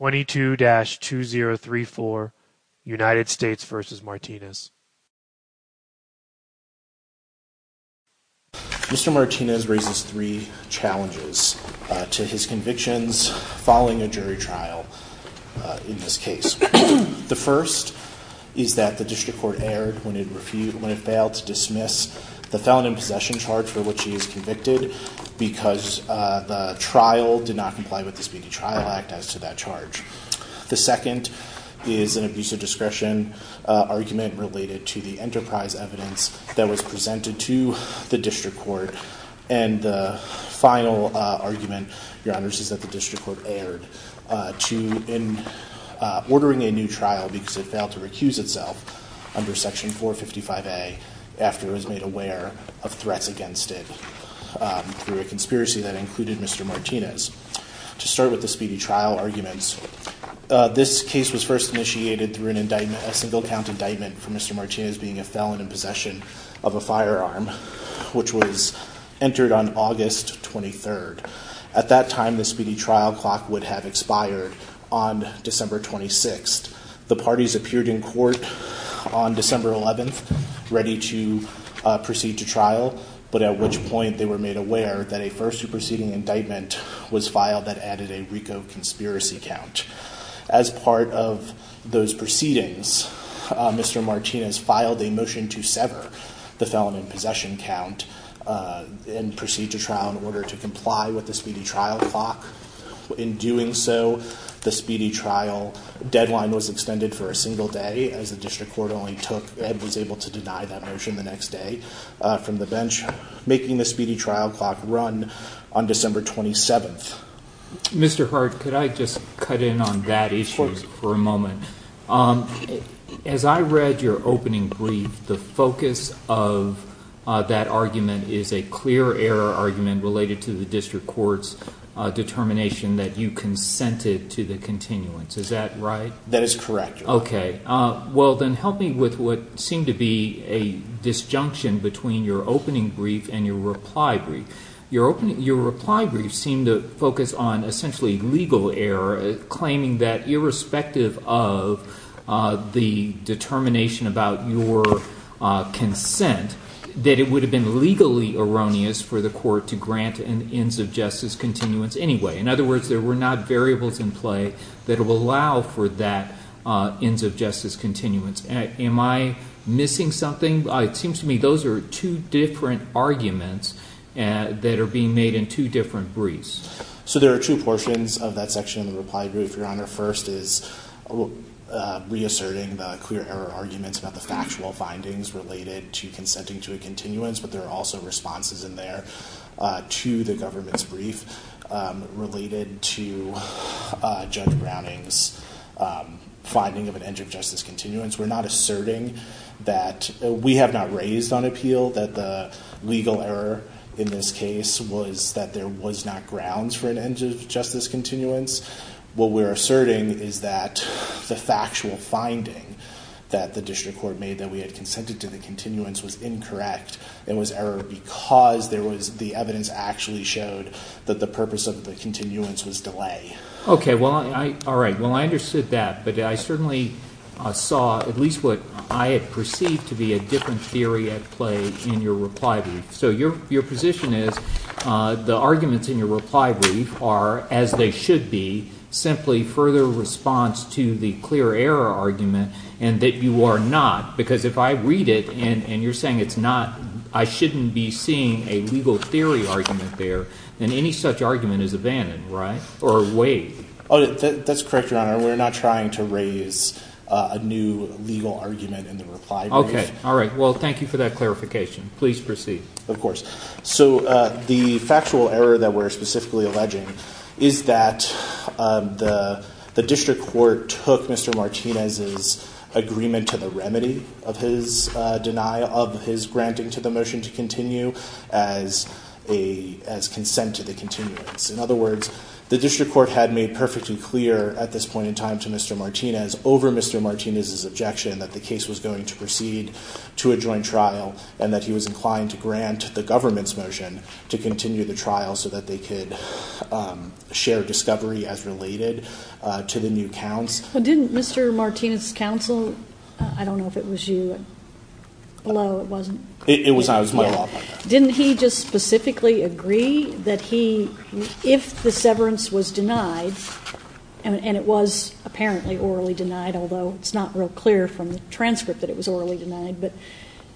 Mr. Martinez raises three challenges to his convictions following a jury trial in this case. The first is that the District Court erred when it failed to dismiss the felon in possession charge for which he is convicted because the trial did not comply with the Speedy Trial Act as to that charge. The second is an abuse of discretion argument related to the enterprise evidence that was presented to the District Court. And the final argument, Your Honors, is that the District Court erred in ordering a new trial because it failed to recuse itself under Section 455A after it was made aware of threats against it through a conspiracy that included Mr. Martinez. To start with the Speedy Trial arguments, this case was first initiated through a single count indictment for Mr. Martinez being a felon in possession of a firearm, which was entered on August 23rd. At that time, the Speedy Trial clock would have expired on December 26th. The parties appeared in court on December 11th ready to proceed to trial, but at which point they were made aware that a first proceeding indictment was filed that added a RICO conspiracy count. As part of those proceedings, Mr. Martinez filed a motion to sever the felon in possession count and proceed to trial in order to comply with the Speedy Trial clock. In doing so, the Speedy Trial deadline was extended for a single day, as the District Court only took and was able to deny that motion the next day from the bench, making the Speedy Trial clock run on December 27th. Mr. Hart, could I just cut in on that issue for a moment? As I read your opening brief, the focus of that argument is a clear error argument related to the District Court's determination that you consented to the continuance. Is that right? That is correct. Okay. Well, then help me with what seemed to be a disjunction between your opening brief and your reply brief. Your reply brief seemed to focus on essentially legal error, claiming that irrespective of the determination about your consent, that it would have been legally erroneous for the court to grant an ends of justice continuance anyway. In other words, there were not variables in play that will allow for that ends of justice continuance. Am I missing something? It seems to me those are two different arguments that are being made in two different briefs. So there are two portions of that section of the reply brief, Your Honor. First is reasserting the clear error arguments about the factual findings related to consenting to a continuance, but there are also responses in there to the government's brief related to Judge Browning's finding of an ends of justice continuance. We're not asserting that – we have not raised on appeal that the legal error in this case was that there was not grounds for an ends of justice continuance. What we're asserting is that the factual finding that the District Court made that we had consented to the continuance was incorrect. It was error because there was – the evidence actually showed that the purpose of the continuance was delay. Okay, well, all right. Well, I understood that, but I certainly saw at least what I had perceived to be a different theory at play in your reply brief. So your position is the arguments in your reply brief are, as they should be, simply further response to the clear error argument and that you are not because if I read it and you're saying it's not – I shouldn't be seeing a legal theory argument there. Then any such argument is abandoned, right, or waived. Oh, that's correct, Your Honor. We're not trying to raise a new legal argument in the reply brief. Okay, all right. Well, thank you for that clarification. Please proceed. Of course. So the factual error that we're specifically alleging is that the District Court took Mr. Martinez's agreement to the remedy of his denial – of his granting to the motion to continue as a – as consent to the continuance. In other words, the District Court had made perfectly clear at this point in time to Mr. Martinez over Mr. Martinez's objection that the case was going to proceed to a joint trial and that he was inclined to grant the government's motion to continue the trial so that they could share discovery as related to the new counts. Well, didn't Mr. Martinez's counsel – I don't know if it was you. Hello, it wasn't. It was my law. Didn't he just specifically agree that he – if the severance was denied, and it was apparently orally denied, although it's not real clear from the transcript that it was orally denied, but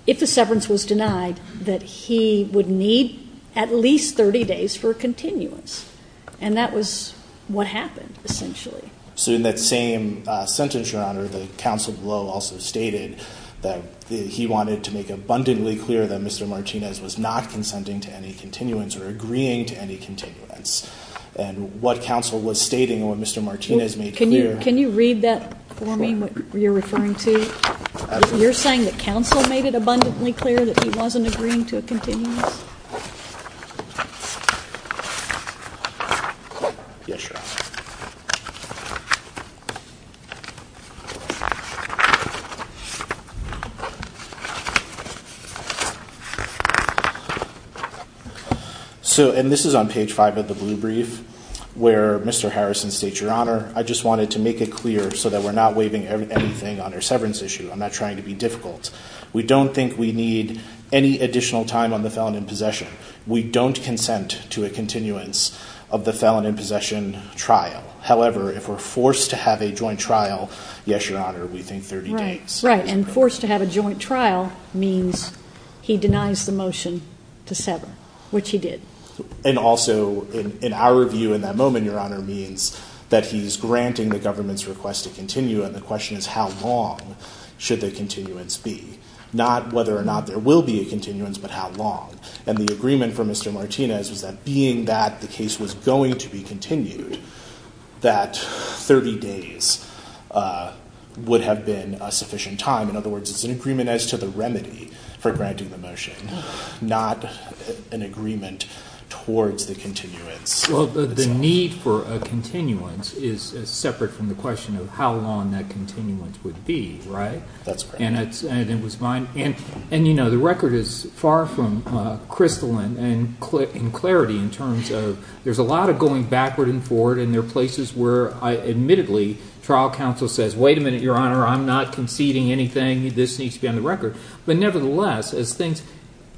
if the severance was denied, that he would need at least 30 days for a continuance. And that was what happened, essentially. So in that same sentence, Your Honor, the counsel below also stated that he wanted to make abundantly clear that Mr. Martinez was not consenting to any continuance or agreeing to any continuance. And what counsel was stating and what Mr. Martinez made clear – Can you read that for me, what you're referring to? You're saying that counsel made it abundantly clear that he wasn't agreeing to a continuance? Yes, Your Honor. Okay. So – and this is on page 5 of the blue brief where Mr. Harrison states, Your Honor, I just wanted to make it clear so that we're not waiving anything on our severance issue. I'm not trying to be difficult. We don't think we need any additional time on the felon in possession. We don't consent to a continuance of the felon in possession trial. However, if we're forced to have a joint trial, yes, Your Honor, we think 30 days is appropriate. Right, and forced to have a joint trial means he denies the motion to sever, which he did. And also, in our view in that moment, Your Honor, means that he's granting the government's request to continue and the question is how long should the continuance be? Not whether or not there will be a continuance, but how long. And the agreement from Mr. Martinez was that being that the case was going to be continued, that 30 days would have been a sufficient time. In other words, it's an agreement as to the remedy for granting the motion, not an agreement towards the continuance. Well, the need for a continuance is separate from the question of how long that continuance would be, right? That's correct. And, you know, the record is far from crystalline in clarity in terms of there's a lot of going backward and forward, and there are places where, admittedly, trial counsel says, wait a minute, Your Honor, I'm not conceding anything. This needs to be on the record. But nevertheless,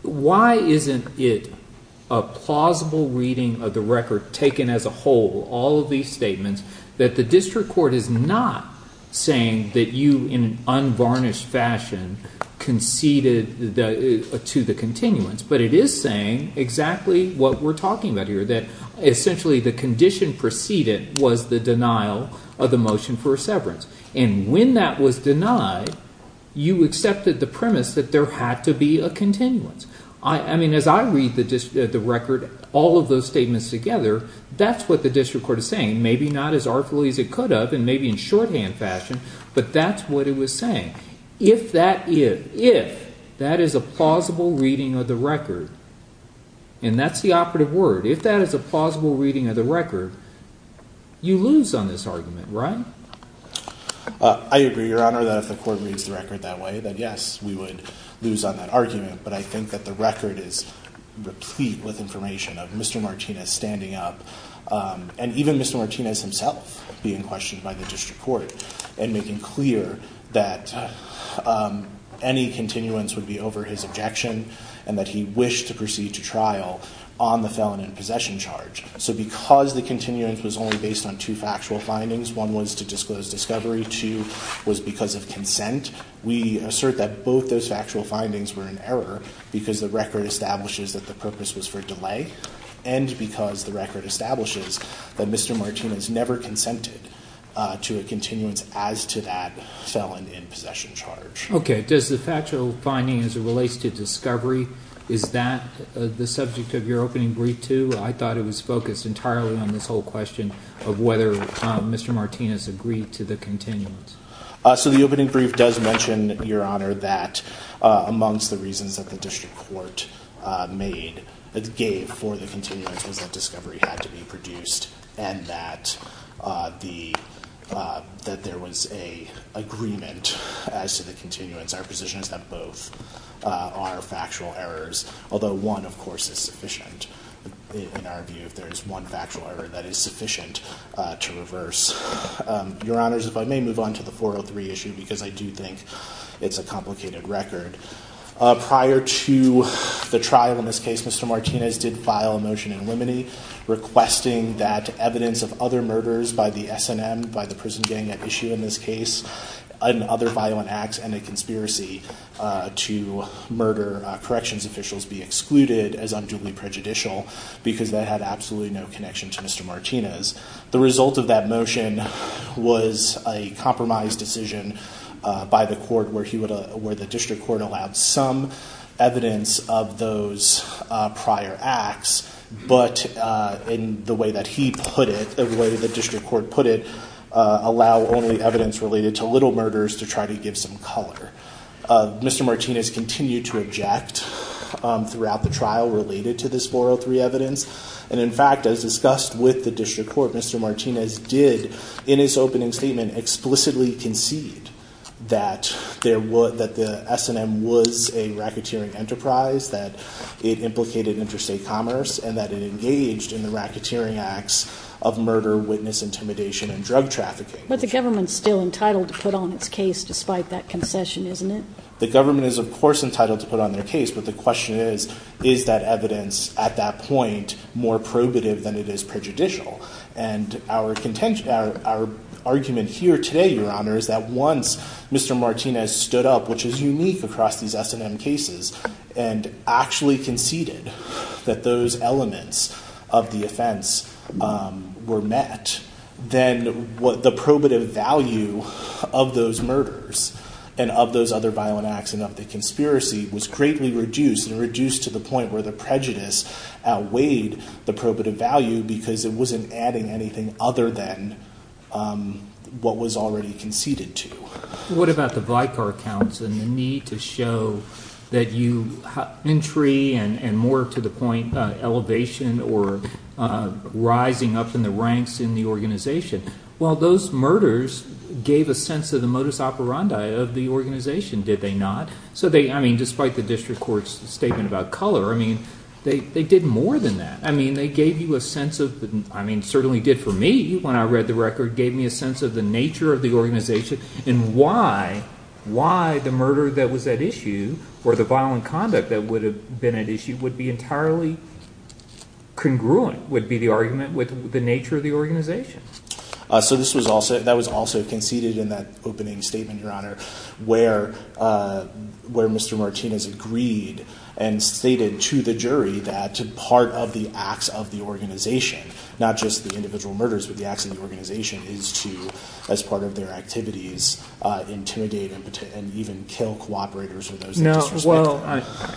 why isn't it a plausible reading of the record taken as a whole, all of these statements, that the district court is not saying that you in an unvarnished fashion conceded to the continuance, but it is saying exactly what we're talking about here, that essentially the condition preceded was the denial of the motion for a severance. And when that was denied, you accepted the premise that there had to be a continuance. I mean, as I read the record, all of those statements together, that's what the district court is saying. Maybe not as artfully as it could have, and maybe in shorthand fashion, but that's what it was saying. If that is, if that is a plausible reading of the record, and that's the operative word, if that is a plausible reading of the record, you lose on this argument, right? I agree, Your Honor, that if the court reads the record that way, that, yes, we would lose on that argument. But I think that the record is replete with information of Mr. Martinez standing up, and even Mr. Martinez himself being questioned by the district court, and making clear that any continuance would be over his objection, and that he wished to proceed to trial on the felon in possession charge. So because the continuance was only based on two factual findings, one was to disclose discovery, two was because of consent, we assert that both those factual findings were in error because the record establishes that the purpose was for delay, and because the record establishes that Mr. Martinez never consented to a continuance as to that felon in possession charge. Okay. Does the factual finding as it relates to discovery, is that the subject of your opening brief too? I thought it was focused entirely on this whole question of whether Mr. Martinez agreed to the continuance. So the opening brief does mention, Your Honor, that amongst the reasons that the district court gave for the continuance was that discovery had to be produced, and that there was an agreement as to the continuance. Our position is that both are factual errors, although one, of course, is sufficient in our view, if there is one factual error that is sufficient to reverse. Your Honors, if I may move on to the 403 issue because I do think it's a complicated record. Prior to the trial in this case, Mr. Martinez did file a motion in limine, requesting that evidence of other murders by the S&M, by the prison gang at issue in this case, and other violent acts and a conspiracy to murder corrections officials be excluded as unduly prejudicial because that had absolutely no connection to Mr. Martinez. The result of that motion was a compromise decision by the court where he would, where the district court allowed some evidence of those prior acts, but in the way that he put it, the way the district court put it, allow only evidence related to little murders to try to give some color. Mr. Martinez continued to object throughout the trial related to this 403 evidence, and in fact, as discussed with the district court, Mr. Martinez did, in his opening statement, explicitly concede that the S&M was a racketeering enterprise, that it implicated interstate commerce, and that it engaged in the racketeering acts of murder, witness intimidation, and drug trafficking. But the government is still entitled to put on its case despite that concession, isn't it? The government is, of course, entitled to put on their case, but the question is, is that evidence at that point more probative than it is prejudicial? And our argument here today, Your Honor, is that once Mr. Martinez stood up, which is unique across these S&M cases, and actually conceded that those elements of the offense were met, then the probative value of those murders and of those other violent acts and of the conspiracy was greatly reduced and reduced to the point where the prejudice outweighed the probative value because it wasn't adding anything other than what was already conceded to. What about the Vicar counts and the need to show that you have entry and more to the point elevation or rising up in the ranks in the organization? Well, those murders gave a sense of the modus operandi of the organization, did they not? So they – I mean despite the district court's statement about color, I mean they did more than that. I mean they gave you a sense of – I mean certainly did for me when I read the record, gave me a sense of the nature of the organization and why the murder that was at issue or the violent conduct that would have been at issue would be entirely congruent, would be the argument with the nature of the organization. So this was also – that was also conceded in that opening statement, Your Honor, where Mr. Martinez agreed and stated to the jury that part of the acts of the organization, not just the individual murders but the acts of the organization, is to, as part of their activities, intimidate and even kill cooperators. No, well,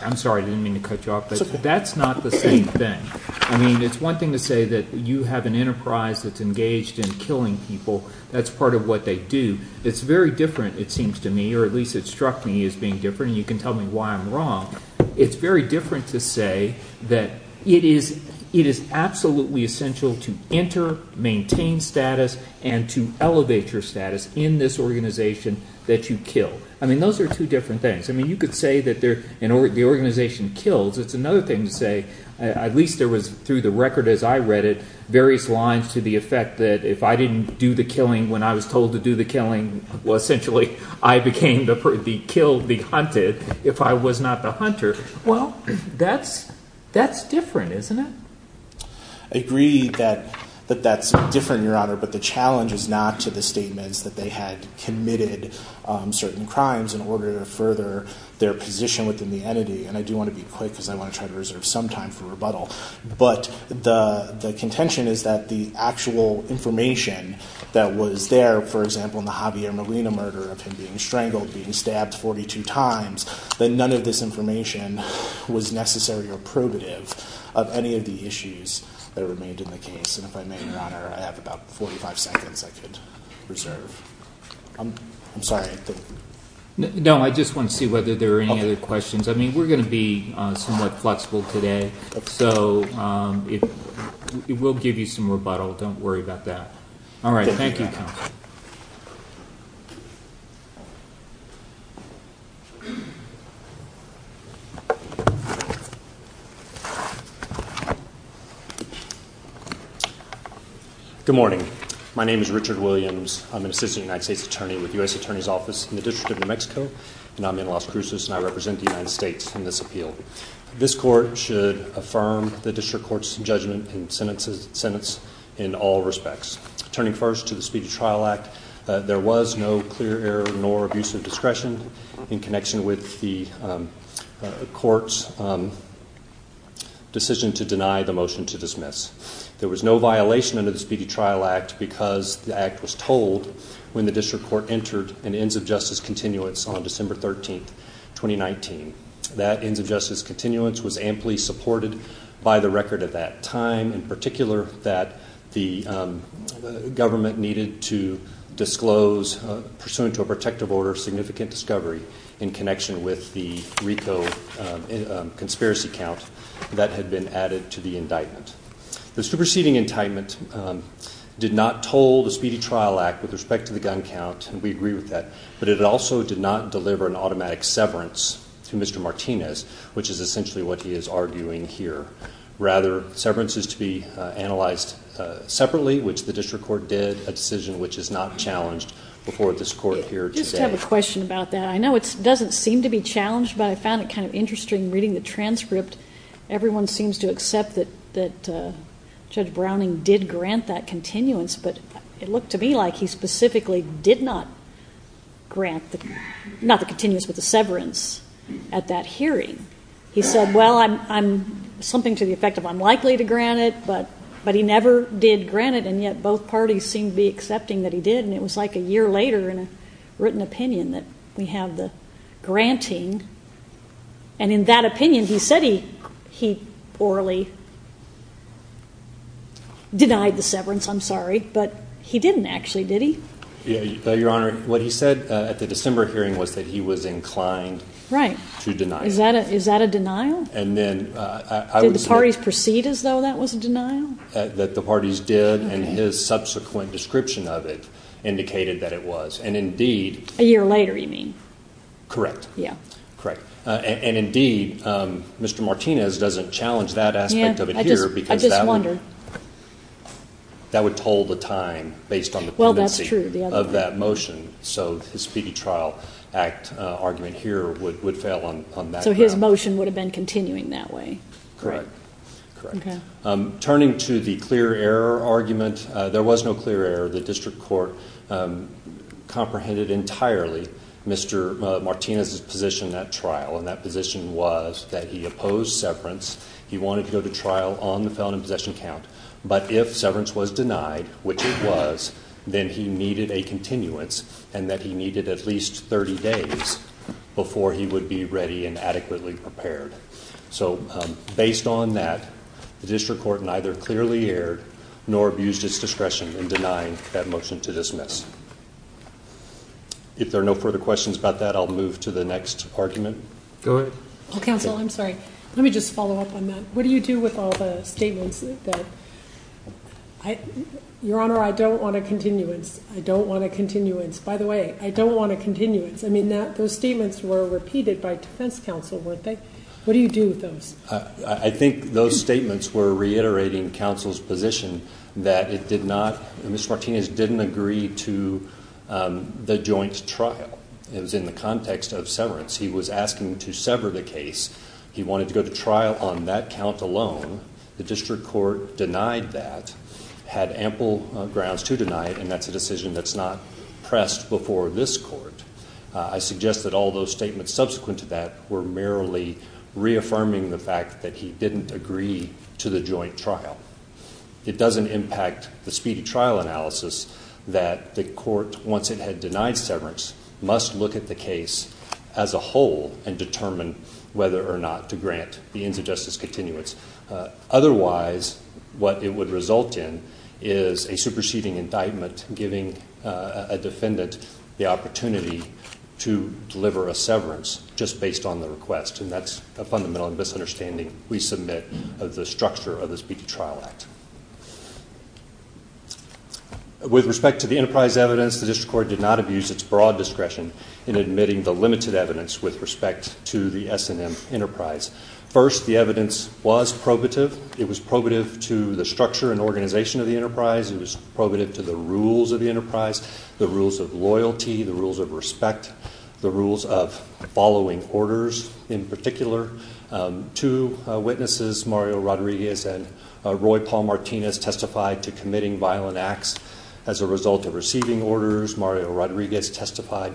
I'm sorry. I didn't mean to cut you off, but that's not the same thing. I mean it's one thing to say that you have an enterprise that's engaged in killing people. That's part of what they do. It's very different, it seems to me, or at least it struck me as being different, and you can tell me why I'm wrong. It's very different to say that it is absolutely essential to enter, maintain status, and to elevate your status in this organization that you kill. I mean those are two different things. I mean you could say that the organization kills. It's another thing to say, at least there was through the record as I read it, various lines to the effect that if I didn't do the killing when I was told to do the killing, well, essentially I became the killed, the hunted, if I was not the hunter. Well, that's different, isn't it? I agree that that's different, Your Honor, but the challenge is not to the statements that they had committed certain crimes in order to further their position within the entity. And I do want to be quick because I want to try to reserve some time for rebuttal. But the contention is that the actual information that was there, for example, in the Javier Molina murder of him being strangled, being stabbed 42 times, that none of this information was necessary or probative of any of the issues that remained in the case. And if I may, Your Honor, I have about 45 seconds I could reserve. I'm sorry. No, I just want to see whether there are any other questions. I mean, we're going to be somewhat flexible today, so we'll give you some rebuttal. Don't worry about that. All right. Thank you, counsel. Good morning. My name is Richard Williams. I'm an assistant United States attorney with the U.S. Attorney's Office in the District of New Mexico, and I'm in Las Cruces and I represent the United States in this appeal. This court should affirm the district court's judgment and sentence in all respects. Turning first to the Speedy Trial Act, there was no clear error nor abuse of discretion in connection with the court's decision to deny the motion to dismiss. There was no violation under the Speedy Trial Act because the act was told when the district court entered an ends-of-justice continuance on December 13, 2019. That ends-of-justice continuance was amply supported by the record at that time, in particular that the government needed to disclose, pursuant to a protective order of significant discovery in connection with the RICO conspiracy count that had been added to the indictment. The superseding indictment did not toll the Speedy Trial Act with respect to the gun count, and we agree with that, but it also did not deliver an automatic severance to Mr. Martinez, which is essentially what he is arguing here. Rather, severance is to be analyzed separately, which the district court did, a decision which is not challenged before this court here today. I just have a question about that. I know it doesn't seem to be challenged, but I found it kind of interesting reading the transcript. Everyone seems to accept that Judge Browning did grant that continuance, but it looked to me like he specifically did not grant, not the continuance, but the severance at that hearing. He said, well, something to the effect of I'm likely to grant it, but he never did grant it, and yet both parties seemed to be accepting that he did, and it was like a year later in a written opinion that we have the granting, and in that opinion he said he orally denied the severance, I'm sorry, but he didn't actually, did he? Your Honor, what he said at the December hearing was that he was inclined to deny it. Is that a denial? Did the parties proceed as though that was a denial? That the parties did, and his subsequent description of it indicated that it was, and indeed. A year later you mean? Correct. Yeah. Correct. And indeed, Mr. Martinez doesn't challenge that aspect of it here because that would. I just wondered. That would toll the time based on the. Well, that's true. Of that motion, so his speedy trial act argument here would fail on that. So his motion would have been continuing that way. Correct. Okay. Turning to the clear error argument, there was no clear error. The district court comprehended entirely Mr. Martinez's position in that trial, and that position was that he opposed severance. He wanted to go to trial on the felony possession count, but if severance was denied, which it was, then he needed a continuance and that he needed at least 30 days before he would be ready and adequately prepared. So, based on that, the district court neither clearly aired nor abused its discretion in denying that motion to dismiss. If there are no further questions about that, I'll move to the next argument. Go ahead. Counsel, I'm sorry. Let me just follow up on that. What do you do with all the statements? Your Honor, I don't want a continuance. I don't want a continuance. By the way, I don't want a continuance. I mean, those statements were repeated by defense counsel, weren't they? What do you do with those? I think those statements were reiterating counsel's position that it did not, that Mr. Martinez didn't agree to the joint trial. It was in the context of severance. He was asking to sever the case. He wanted to go to trial on that count alone. The district court denied that, had ample grounds to deny it, and that's a decision that's not pressed before this court. I suggest that all those statements subsequent to that were merely reaffirming the fact that he didn't agree to the joint trial. It doesn't impact the speedy trial analysis that the court, once it had denied severance, must look at the case as a whole and determine whether or not to grant the ends of justice continuance. Otherwise, what it would result in is a superseding indictment, giving a defendant the opportunity to deliver a severance just based on the request, and that's a fundamental misunderstanding we submit of the structure of the Speedy Trial Act. With respect to the enterprise evidence, the district court did not abuse its broad discretion in admitting the limited evidence with respect to the S&M enterprise. First, the evidence was probative. It was probative to the structure and organization of the enterprise. It was probative to the rules of the enterprise, the rules of loyalty, the rules of respect, the rules of following orders in particular. Two witnesses, Mario Rodriguez and Roy Paul Martinez, testified to committing violent acts as a result of receiving orders. Mario Rodriguez testified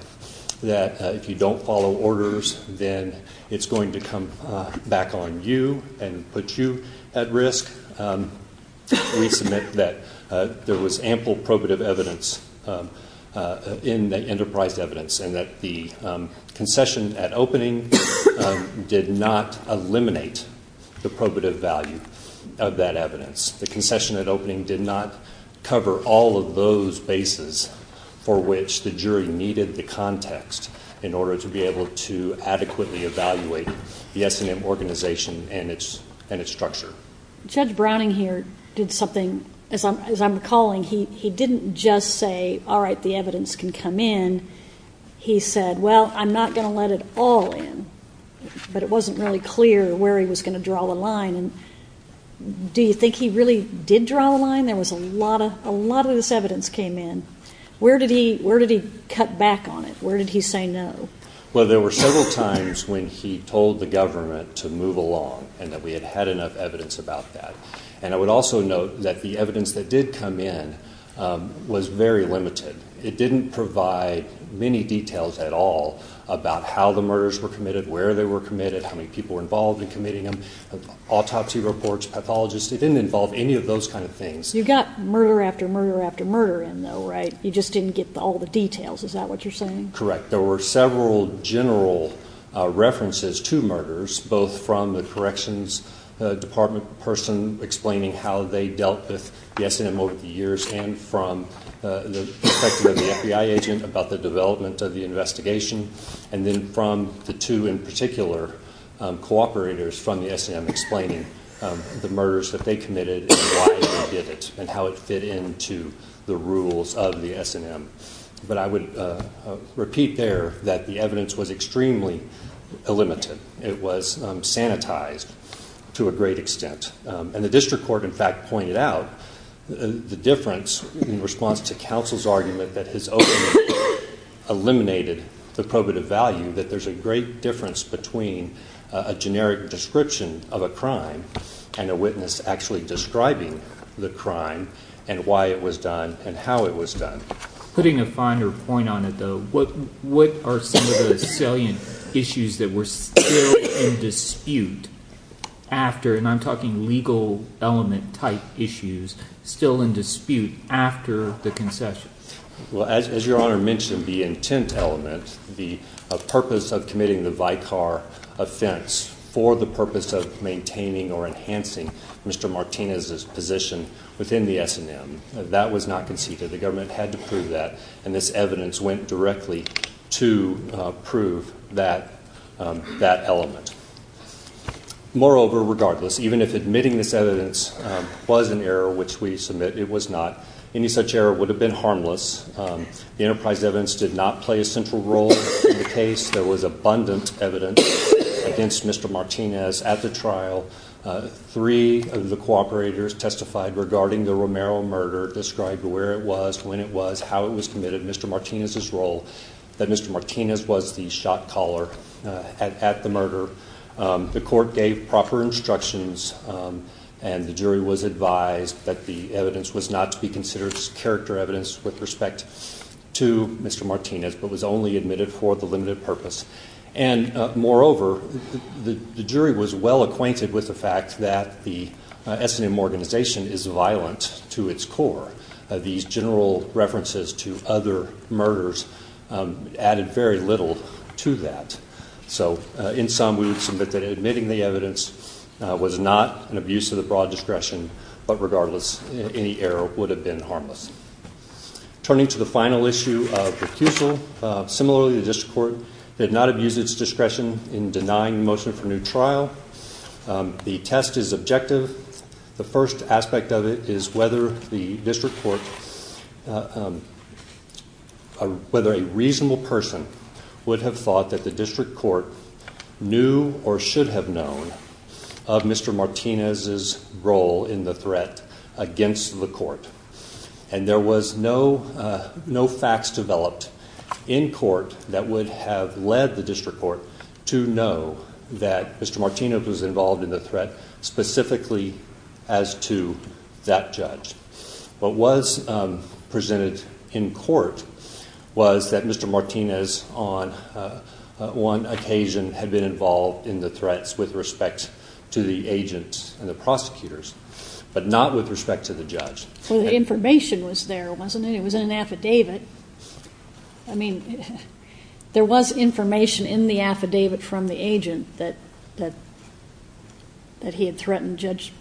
that if you don't follow orders, then it's going to come back on you and put you at risk. We submit that there was ample probative evidence in the enterprise evidence and that the concession at opening did not eliminate the probative value of that evidence. The concession at opening did not cover all of those bases for which the jury needed the context in order to be able to adequately evaluate the S&M organization and its structure. Judge Browning here did something, as I'm recalling, he didn't just say, all right, the evidence can come in. He said, well, I'm not going to let it all in. But it wasn't really clear where he was going to draw the line. And do you think he really did draw the line? There was a lot of this evidence came in. Where did he cut back on it? Where did he say no? Well, there were several times when he told the government to move along and that we had had enough evidence about that. And I would also note that the evidence that did come in was very limited. It didn't provide many details at all about how the murders were committed, where they were committed, how many people were involved in committing them, autopsy reports, pathologists. It didn't involve any of those kind of things. You got murder after murder after murder in, though, right? You just didn't get all the details. Is that what you're saying? Correct. There were several general references to murders, both from the corrections department person explaining how they dealt with the S&M over the years and from the perspective of the FBI agent about the development of the investigation, and then from the two in particular cooperators from the S&M explaining the murders that they committed and why they did it and how it fit into the rules of the S&M. But I would repeat there that the evidence was extremely limited. It was sanitized to a great extent. And the district court, in fact, pointed out the difference in response to counsel's argument that his opening eliminated the probative value that there's a great difference between a generic description of a crime and a witness actually describing the crime and why it was done and how it was done. Putting a finer point on it, though, what are some of the salient issues that were still in dispute after, and I'm talking legal element type issues, still in dispute after the concession? Well, as your Honor mentioned, the intent element, the purpose of committing the Vicar offense for the purpose of maintaining or enhancing Mr. Martinez's position within the S&M, that was not conceded. The government had to prove that, and this evidence went directly to prove that element. Moreover, regardless, even if admitting this evidence was an error, which we submit it was not, any such error would have been harmless. The enterprise evidence did not play a central role in the case. There was abundant evidence against Mr. Martinez at the trial. Three of the cooperators testified regarding the Romero murder, described where it was, when it was, how it was committed, Mr. Martinez's role, that Mr. Martinez was the shot caller at the murder. The court gave proper instructions, and the jury was advised that the evidence was not to be considered character evidence with respect to Mr. Martinez, but was only admitted for the limited purpose. Moreover, the jury was well acquainted with the fact that the S&M organization is violent to its core. These general references to other murders added very little to that. So in sum, we would submit that admitting the evidence was not an abuse of the broad discretion, but regardless, any error would have been harmless. Turning to the final issue of recusal, similarly, the district court did not abuse its discretion in denying motion for new trial. The test is objective. The first aspect of it is whether the district court, whether a reasonable person would have thought that the district court knew or should have known of Mr. Martinez's role in the threat against the court. And there was no facts developed in court that would have led the district court to know that Mr. Martinez was involved in the threat specifically as to that judge. What was presented in court was that Mr. Martinez, on one occasion, had been involved in the threats with respect to the agent and the prosecutors, but not with respect to the judge. Well, the information was there, wasn't it? It was in an affidavit. I mean, there was information in the affidavit from the agent that he had threatened Judge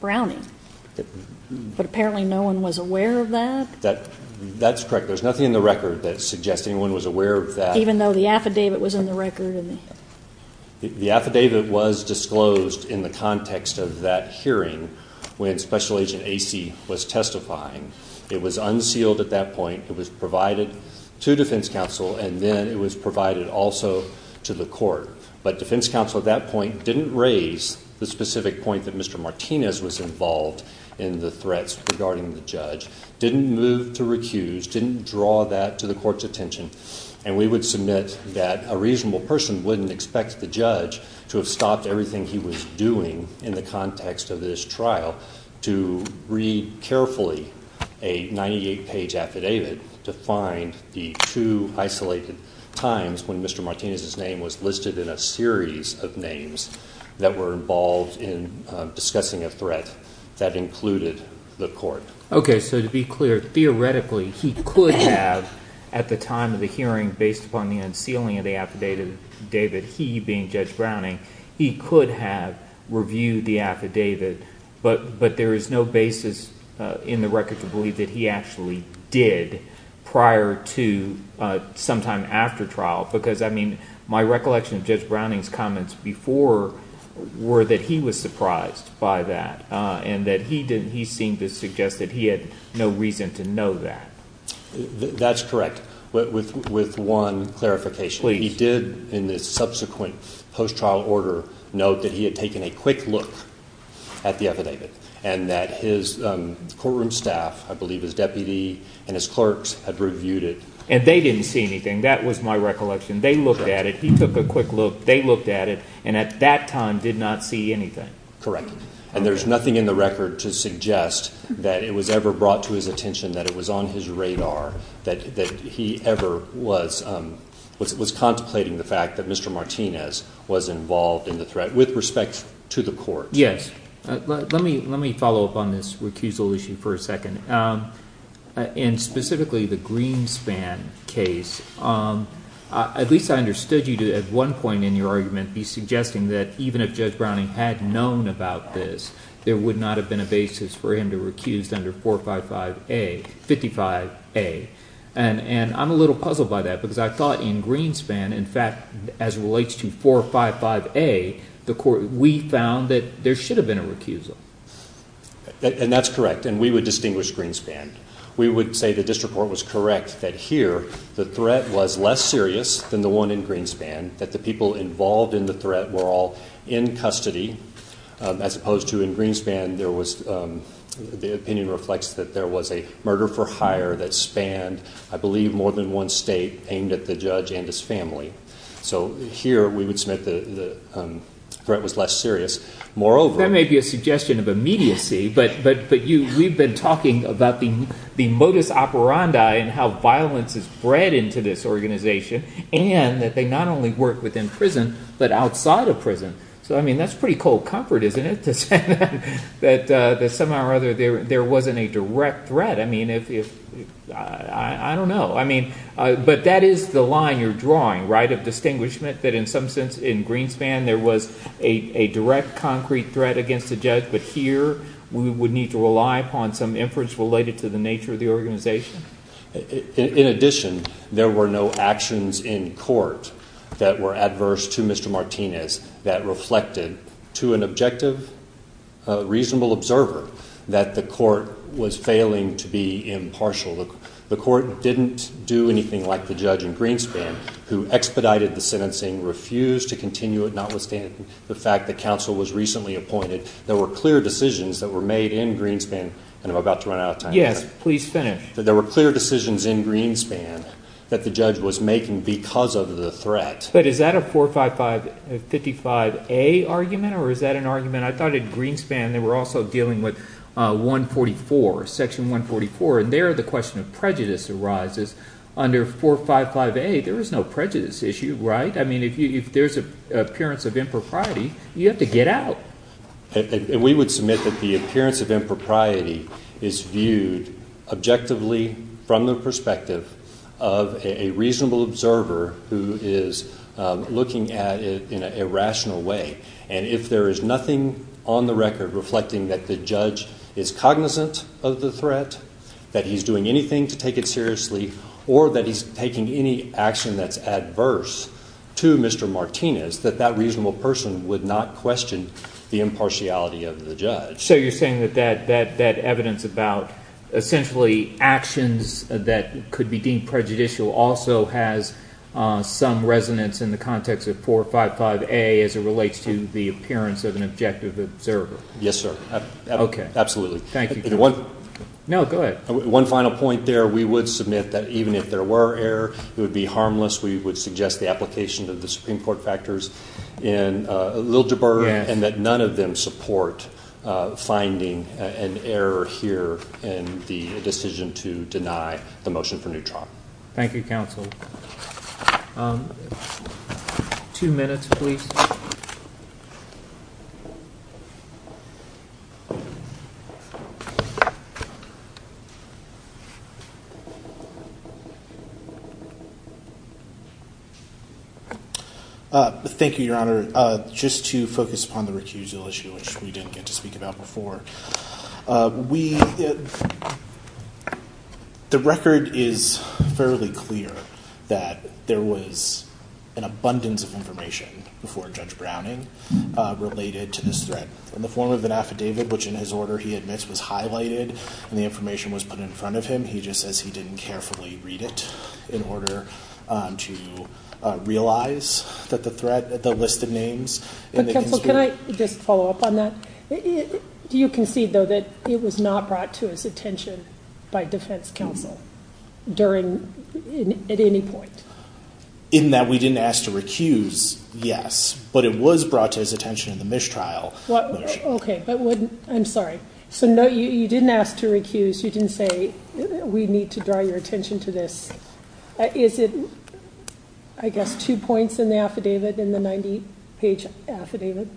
Browning, but apparently no one was aware of that? That's correct. There's nothing in the record that suggests anyone was aware of that. Even though the affidavit was in the record? The affidavit was disclosed in the context of that hearing when Special Agent Acey was testifying. It was unsealed at that point. It was provided to defense counsel, and then it was provided also to the court. But defense counsel at that point didn't raise the specific point that Mr. Martinez was involved in the threats regarding the judge, didn't move to recuse, didn't draw that to the court's attention, and we would submit that a reasonable person wouldn't expect the judge to have stopped everything he was doing in the context of this trial to read carefully a 98-page affidavit to find the two isolated times when Mr. Martinez's name was listed in a series of names that were involved in discussing a threat that included the court. Okay, so to be clear, theoretically he could have at the time of the hearing, based upon the unsealing of the affidavit, he being Judge Browning, he could have reviewed the affidavit, but there is no basis in the record to believe that he actually did prior to sometime after trial because, I mean, my recollection of Judge Browning's comments before were that he was surprised by that and that he seemed to suggest that he had no reason to know that. That's correct, with one clarification. He did, in the subsequent post-trial order, note that he had taken a quick look at the affidavit and that his courtroom staff, I believe his deputy and his clerks, had reviewed it. And they didn't see anything. That was my recollection. They looked at it. He took a quick look. They looked at it, and at that time did not see anything. Correct. And there's nothing in the record to suggest that it was ever brought to his attention, that it was on his radar, that he ever was contemplating the fact that Mr. Martinez was involved in the threat with respect to the court. Yes. Let me follow up on this recusal issue for a second. In specifically the Greenspan case, at least I understood you to, at one point in your argument, be suggesting that even if Judge Browning had known about this, there would not have been a basis for him to recuse under 455A, 55A. And I'm a little puzzled by that because I thought in Greenspan, in fact, as it relates to 455A, we found that there should have been a recusal. And that's correct, and we would distinguish Greenspan. We would say the district court was correct that here the threat was less serious than the one in Greenspan, that the people involved in the threat were all in custody, as opposed to in Greenspan, the opinion reflects that there was a murder for hire that spanned, I believe, more than one state, aimed at the judge and his family. So here we would submit the threat was less serious. Moreover- That may be a suggestion of immediacy, but we've been talking about the modus operandi and how violence is bred into this organization, and that they not only work within prison, but outside of prison. So, I mean, that's pretty cold comfort, isn't it, to say that somehow or other there wasn't a direct threat? I mean, I don't know. I mean, but that is the line you're drawing, right, of distinguishment, that in some sense in Greenspan there was a direct, concrete threat against the judge, but here we would need to rely upon some inference related to the nature of the organization? In addition, there were no actions in court that were adverse to Mr. Martinez that reflected to an objective, reasonable observer, that the court was failing to be impartial. The court didn't do anything like the judge in Greenspan, who expedited the sentencing, refused to continue it, notwithstanding the fact that counsel was recently appointed. There were clear decisions that were made in Greenspan, and I'm about to run out of time. Yes, please finish. There were clear decisions in Greenspan that the judge was making because of the threat. But is that a 455A argument, or is that an argument? I thought in Greenspan they were also dealing with 144, Section 144, and there the question of prejudice arises. Under 455A, there is no prejudice issue, right? I mean, if there's an appearance of impropriety, you have to get out. We would submit that the appearance of impropriety is viewed objectively from the perspective of a reasonable observer who is looking at it in a rational way. And if there is nothing on the record reflecting that the judge is cognizant of the threat, that he's doing anything to take it seriously, or that he's taking any action that's adverse to Mr. Martinez, that that reasonable person would not question the impartiality of the judge. So you're saying that that evidence about essentially actions that could be deemed prejudicial also has some resonance in the context of 455A as it relates to the appearance of an objective observer? Yes, sir. Okay. Absolutely. Thank you. No, go ahead. One final point there. We would submit that even if there were error, it would be harmless. We would suggest the application of the Supreme Court factors in a little deburr and that none of them support finding an error here in the decision to deny the motion for new trial. Thank you, counsel. Two minutes, please. Thank you, Your Honor. Just to focus upon the recusal issue, which we didn't get to speak about before, the record is fairly clear that there was an abundance of information before Judge Browning related to this threat. In the form of an affidavit, which in his order he admits was highlighted and the information was put in front of him, he just says he didn't carefully read it in order to realize that the threat, the list of names. Counsel, can I just follow up on that? Do you concede, though, that it was not brought to his attention by defense counsel during, at any point? In that we didn't ask to recuse, yes. But it was brought to his attention in the mistrial. OK, but I'm sorry. So no, you didn't ask to recuse. You didn't say we need to draw your attention to this. Is it, I guess, two points in the affidavit in the 90 page affidavit?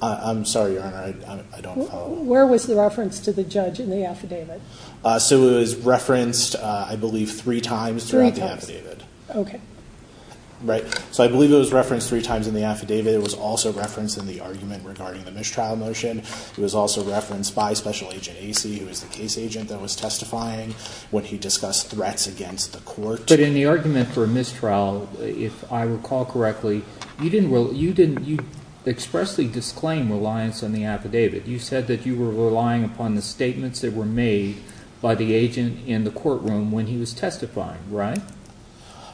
I'm sorry, Your Honor. I don't know. Where was the reference to the judge in the affidavit? So it was referenced, I believe, three times throughout the affidavit. OK. Right. So I believe it was referenced three times in the affidavit. It was also referenced in the argument regarding the mistrial motion. It was also referenced by Special Agent Acey, who was the case agent that was testifying when he discussed threats against the court. But in the argument for mistrial, if I recall correctly, you expressly disclaimed reliance on the affidavit. You said that you were relying upon the statements that were made by the agent in the courtroom when he was testifying, right?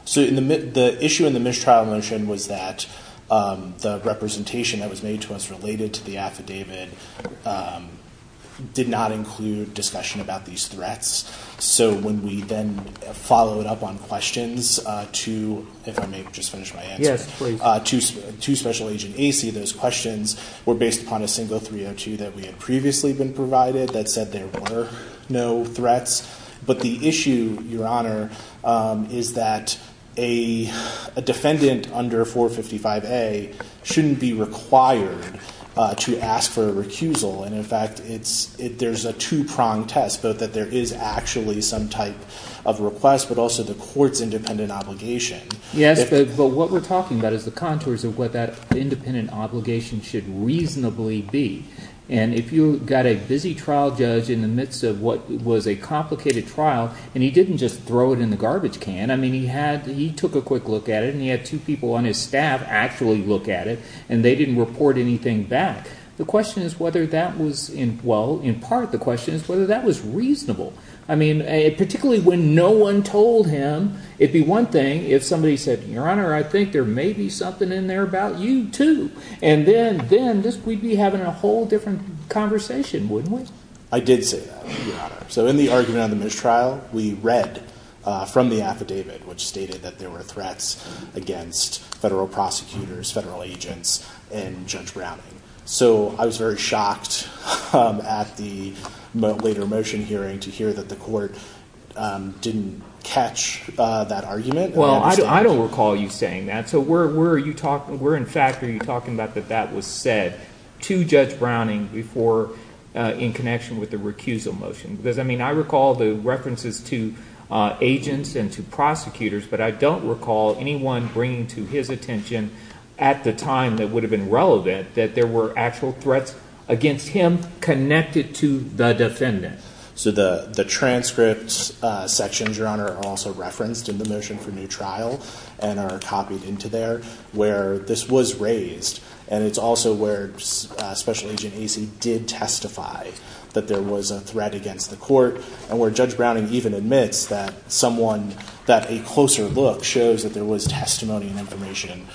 So the issue in the mistrial motion was that the representation that was made to us related to the affidavit did not include discussion about these threats. So when we then followed up on questions to, if I may just finish my answer. Yes, please. To Special Agent Acey, those questions were based upon a single 302 that we had previously been provided that said there were no threats. But the issue, Your Honor, is that a defendant under 455A shouldn't be required to ask for a recusal. And, in fact, there's a two-pronged test, both that there is actually some type of request but also the court's independent obligation. Yes, but what we're talking about is the contours of what that independent obligation should reasonably be. And if you've got a busy trial judge in the midst of what was a complicated trial and he didn't just throw it in the garbage can. I mean he had – he took a quick look at it and he had two people on his staff actually look at it and they didn't report anything back. The question is whether that was – well, in part the question is whether that was reasonable. I mean particularly when no one told him, it'd be one thing if somebody said, Your Honor, I think there may be something in there about you too. And then we'd be having a whole different conversation, wouldn't we? I did say that, Your Honor. So in the argument on the mistrial, we read from the affidavit which stated that there were threats against federal prosecutors, federal agents, and Judge Browning. So I was very shocked at the later motion hearing to hear that the court didn't catch that argument. Well, I don't recall you saying that. So where are you talking – where in fact are you talking about that that was said to Judge Browning before in connection with the recusal motion? Because I mean I recall the references to agents and to prosecutors, but I don't recall anyone bringing to his attention at the time that would have been relevant that there were actual threats against him connected to the defendant. So the transcript sections, Your Honor, are also referenced in the motion for new trial and are copied into there where this was raised. And it's also where Special Agent Acey did testify that there was a threat against the court and where Judge Browning even admits that someone – that a closer look shows that there was testimony and information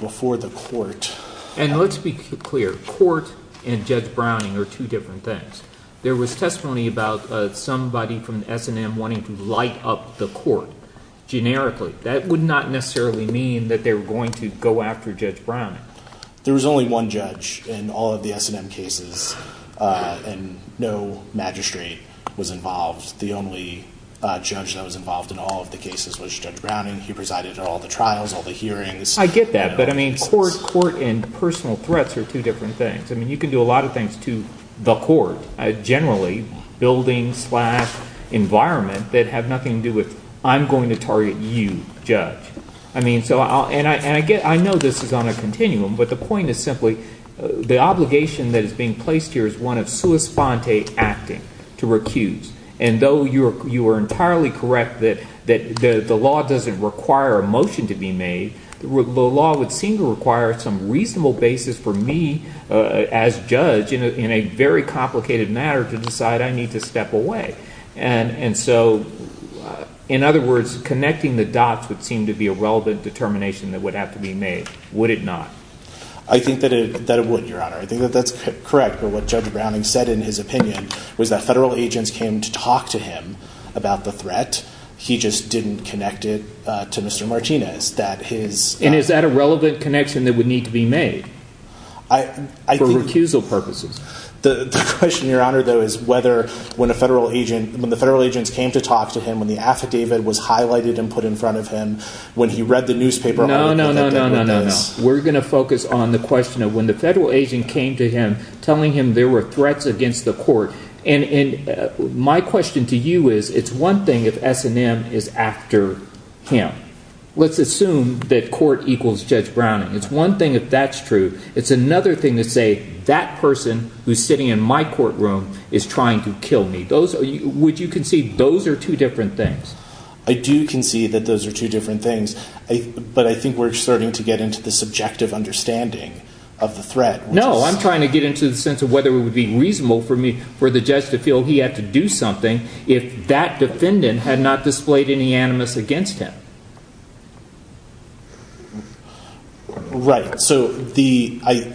before the court. And let's be clear. Court and Judge Browning are two different things. There was testimony about somebody from the S&M wanting to light up the court generically. That would not necessarily mean that they were going to go after Judge Browning. There was only one judge in all of the S&M cases, and no magistrate was involved. The only judge that was involved in all of the cases was Judge Browning. He presided over all the trials, all the hearings. I get that. But I mean court and personal threats are two different things. I mean you can do a lot of things to the court generally, building slash environment, that have nothing to do with I'm going to target you, judge. I mean so – and I get – I know this is on a continuum, but the point is simply the obligation that is being placed here is one of sua sponte acting, to recuse. And though you are entirely correct that the law doesn't require a motion to be made, the law would seem to require some reasonable basis for me as judge in a very complicated matter to decide I need to step away. And so, in other words, connecting the dots would seem to be a relevant determination that would have to be made, would it not? I think that it would, Your Honor. I think that that's correct. But what Judge Browning said in his opinion was that federal agents came to talk to him about the threat. He just didn't connect it to Mr. Martinez, that his – And is that a relevant connection that would need to be made for recusal purposes? The question, Your Honor, though, is whether when a federal agent – when the federal agents came to talk to him, when the affidavit was highlighted and put in front of him, when he read the newspaper article – No, no, no, no, no, no. We're going to focus on the question of when the federal agent came to him telling him there were threats against the court. And my question to you is it's one thing if S&M is after him. Let's assume that court equals Judge Browning. It's one thing if that's true. It's another thing to say that person who's sitting in my courtroom is trying to kill me. Would you concede those are two different things? I do concede that those are two different things. But I think we're starting to get into the subjective understanding of the threat. No, I'm trying to get into the sense of whether it would be reasonable for the judge to feel he had to do something if that defendant had not displayed any animus against him. Right. So the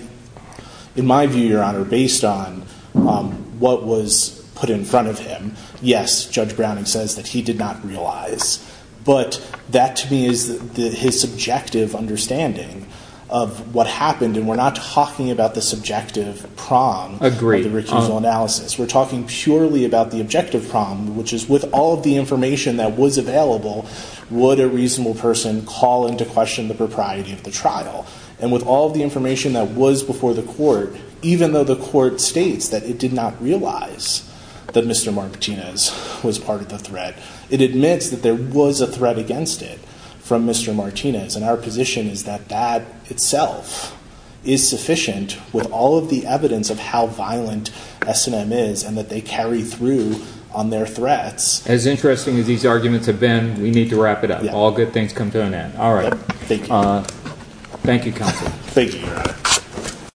– in my view, Your Honor, based on what was put in front of him, yes, Judge Browning says that he did not realize. But that to me is his subjective understanding of what happened. And we're not talking about the subjective prong of the recusal analysis. We're talking purely about the objective prong, which is with all of the information that was available, would a reasonable person call into question the propriety of the trial? And with all of the information that was before the court, even though the court states that it did not realize that Mr. Martinez was part of the threat, it admits that there was a threat against it from Mr. Martinez. And our position is that that itself is sufficient with all of the evidence of how violent S&M is and that they carry through on their threats. As interesting as these arguments have been, we need to wrap it up. All good things come to an end. All right. Thank you. Thank you, counsel. Thank you, Your Honor.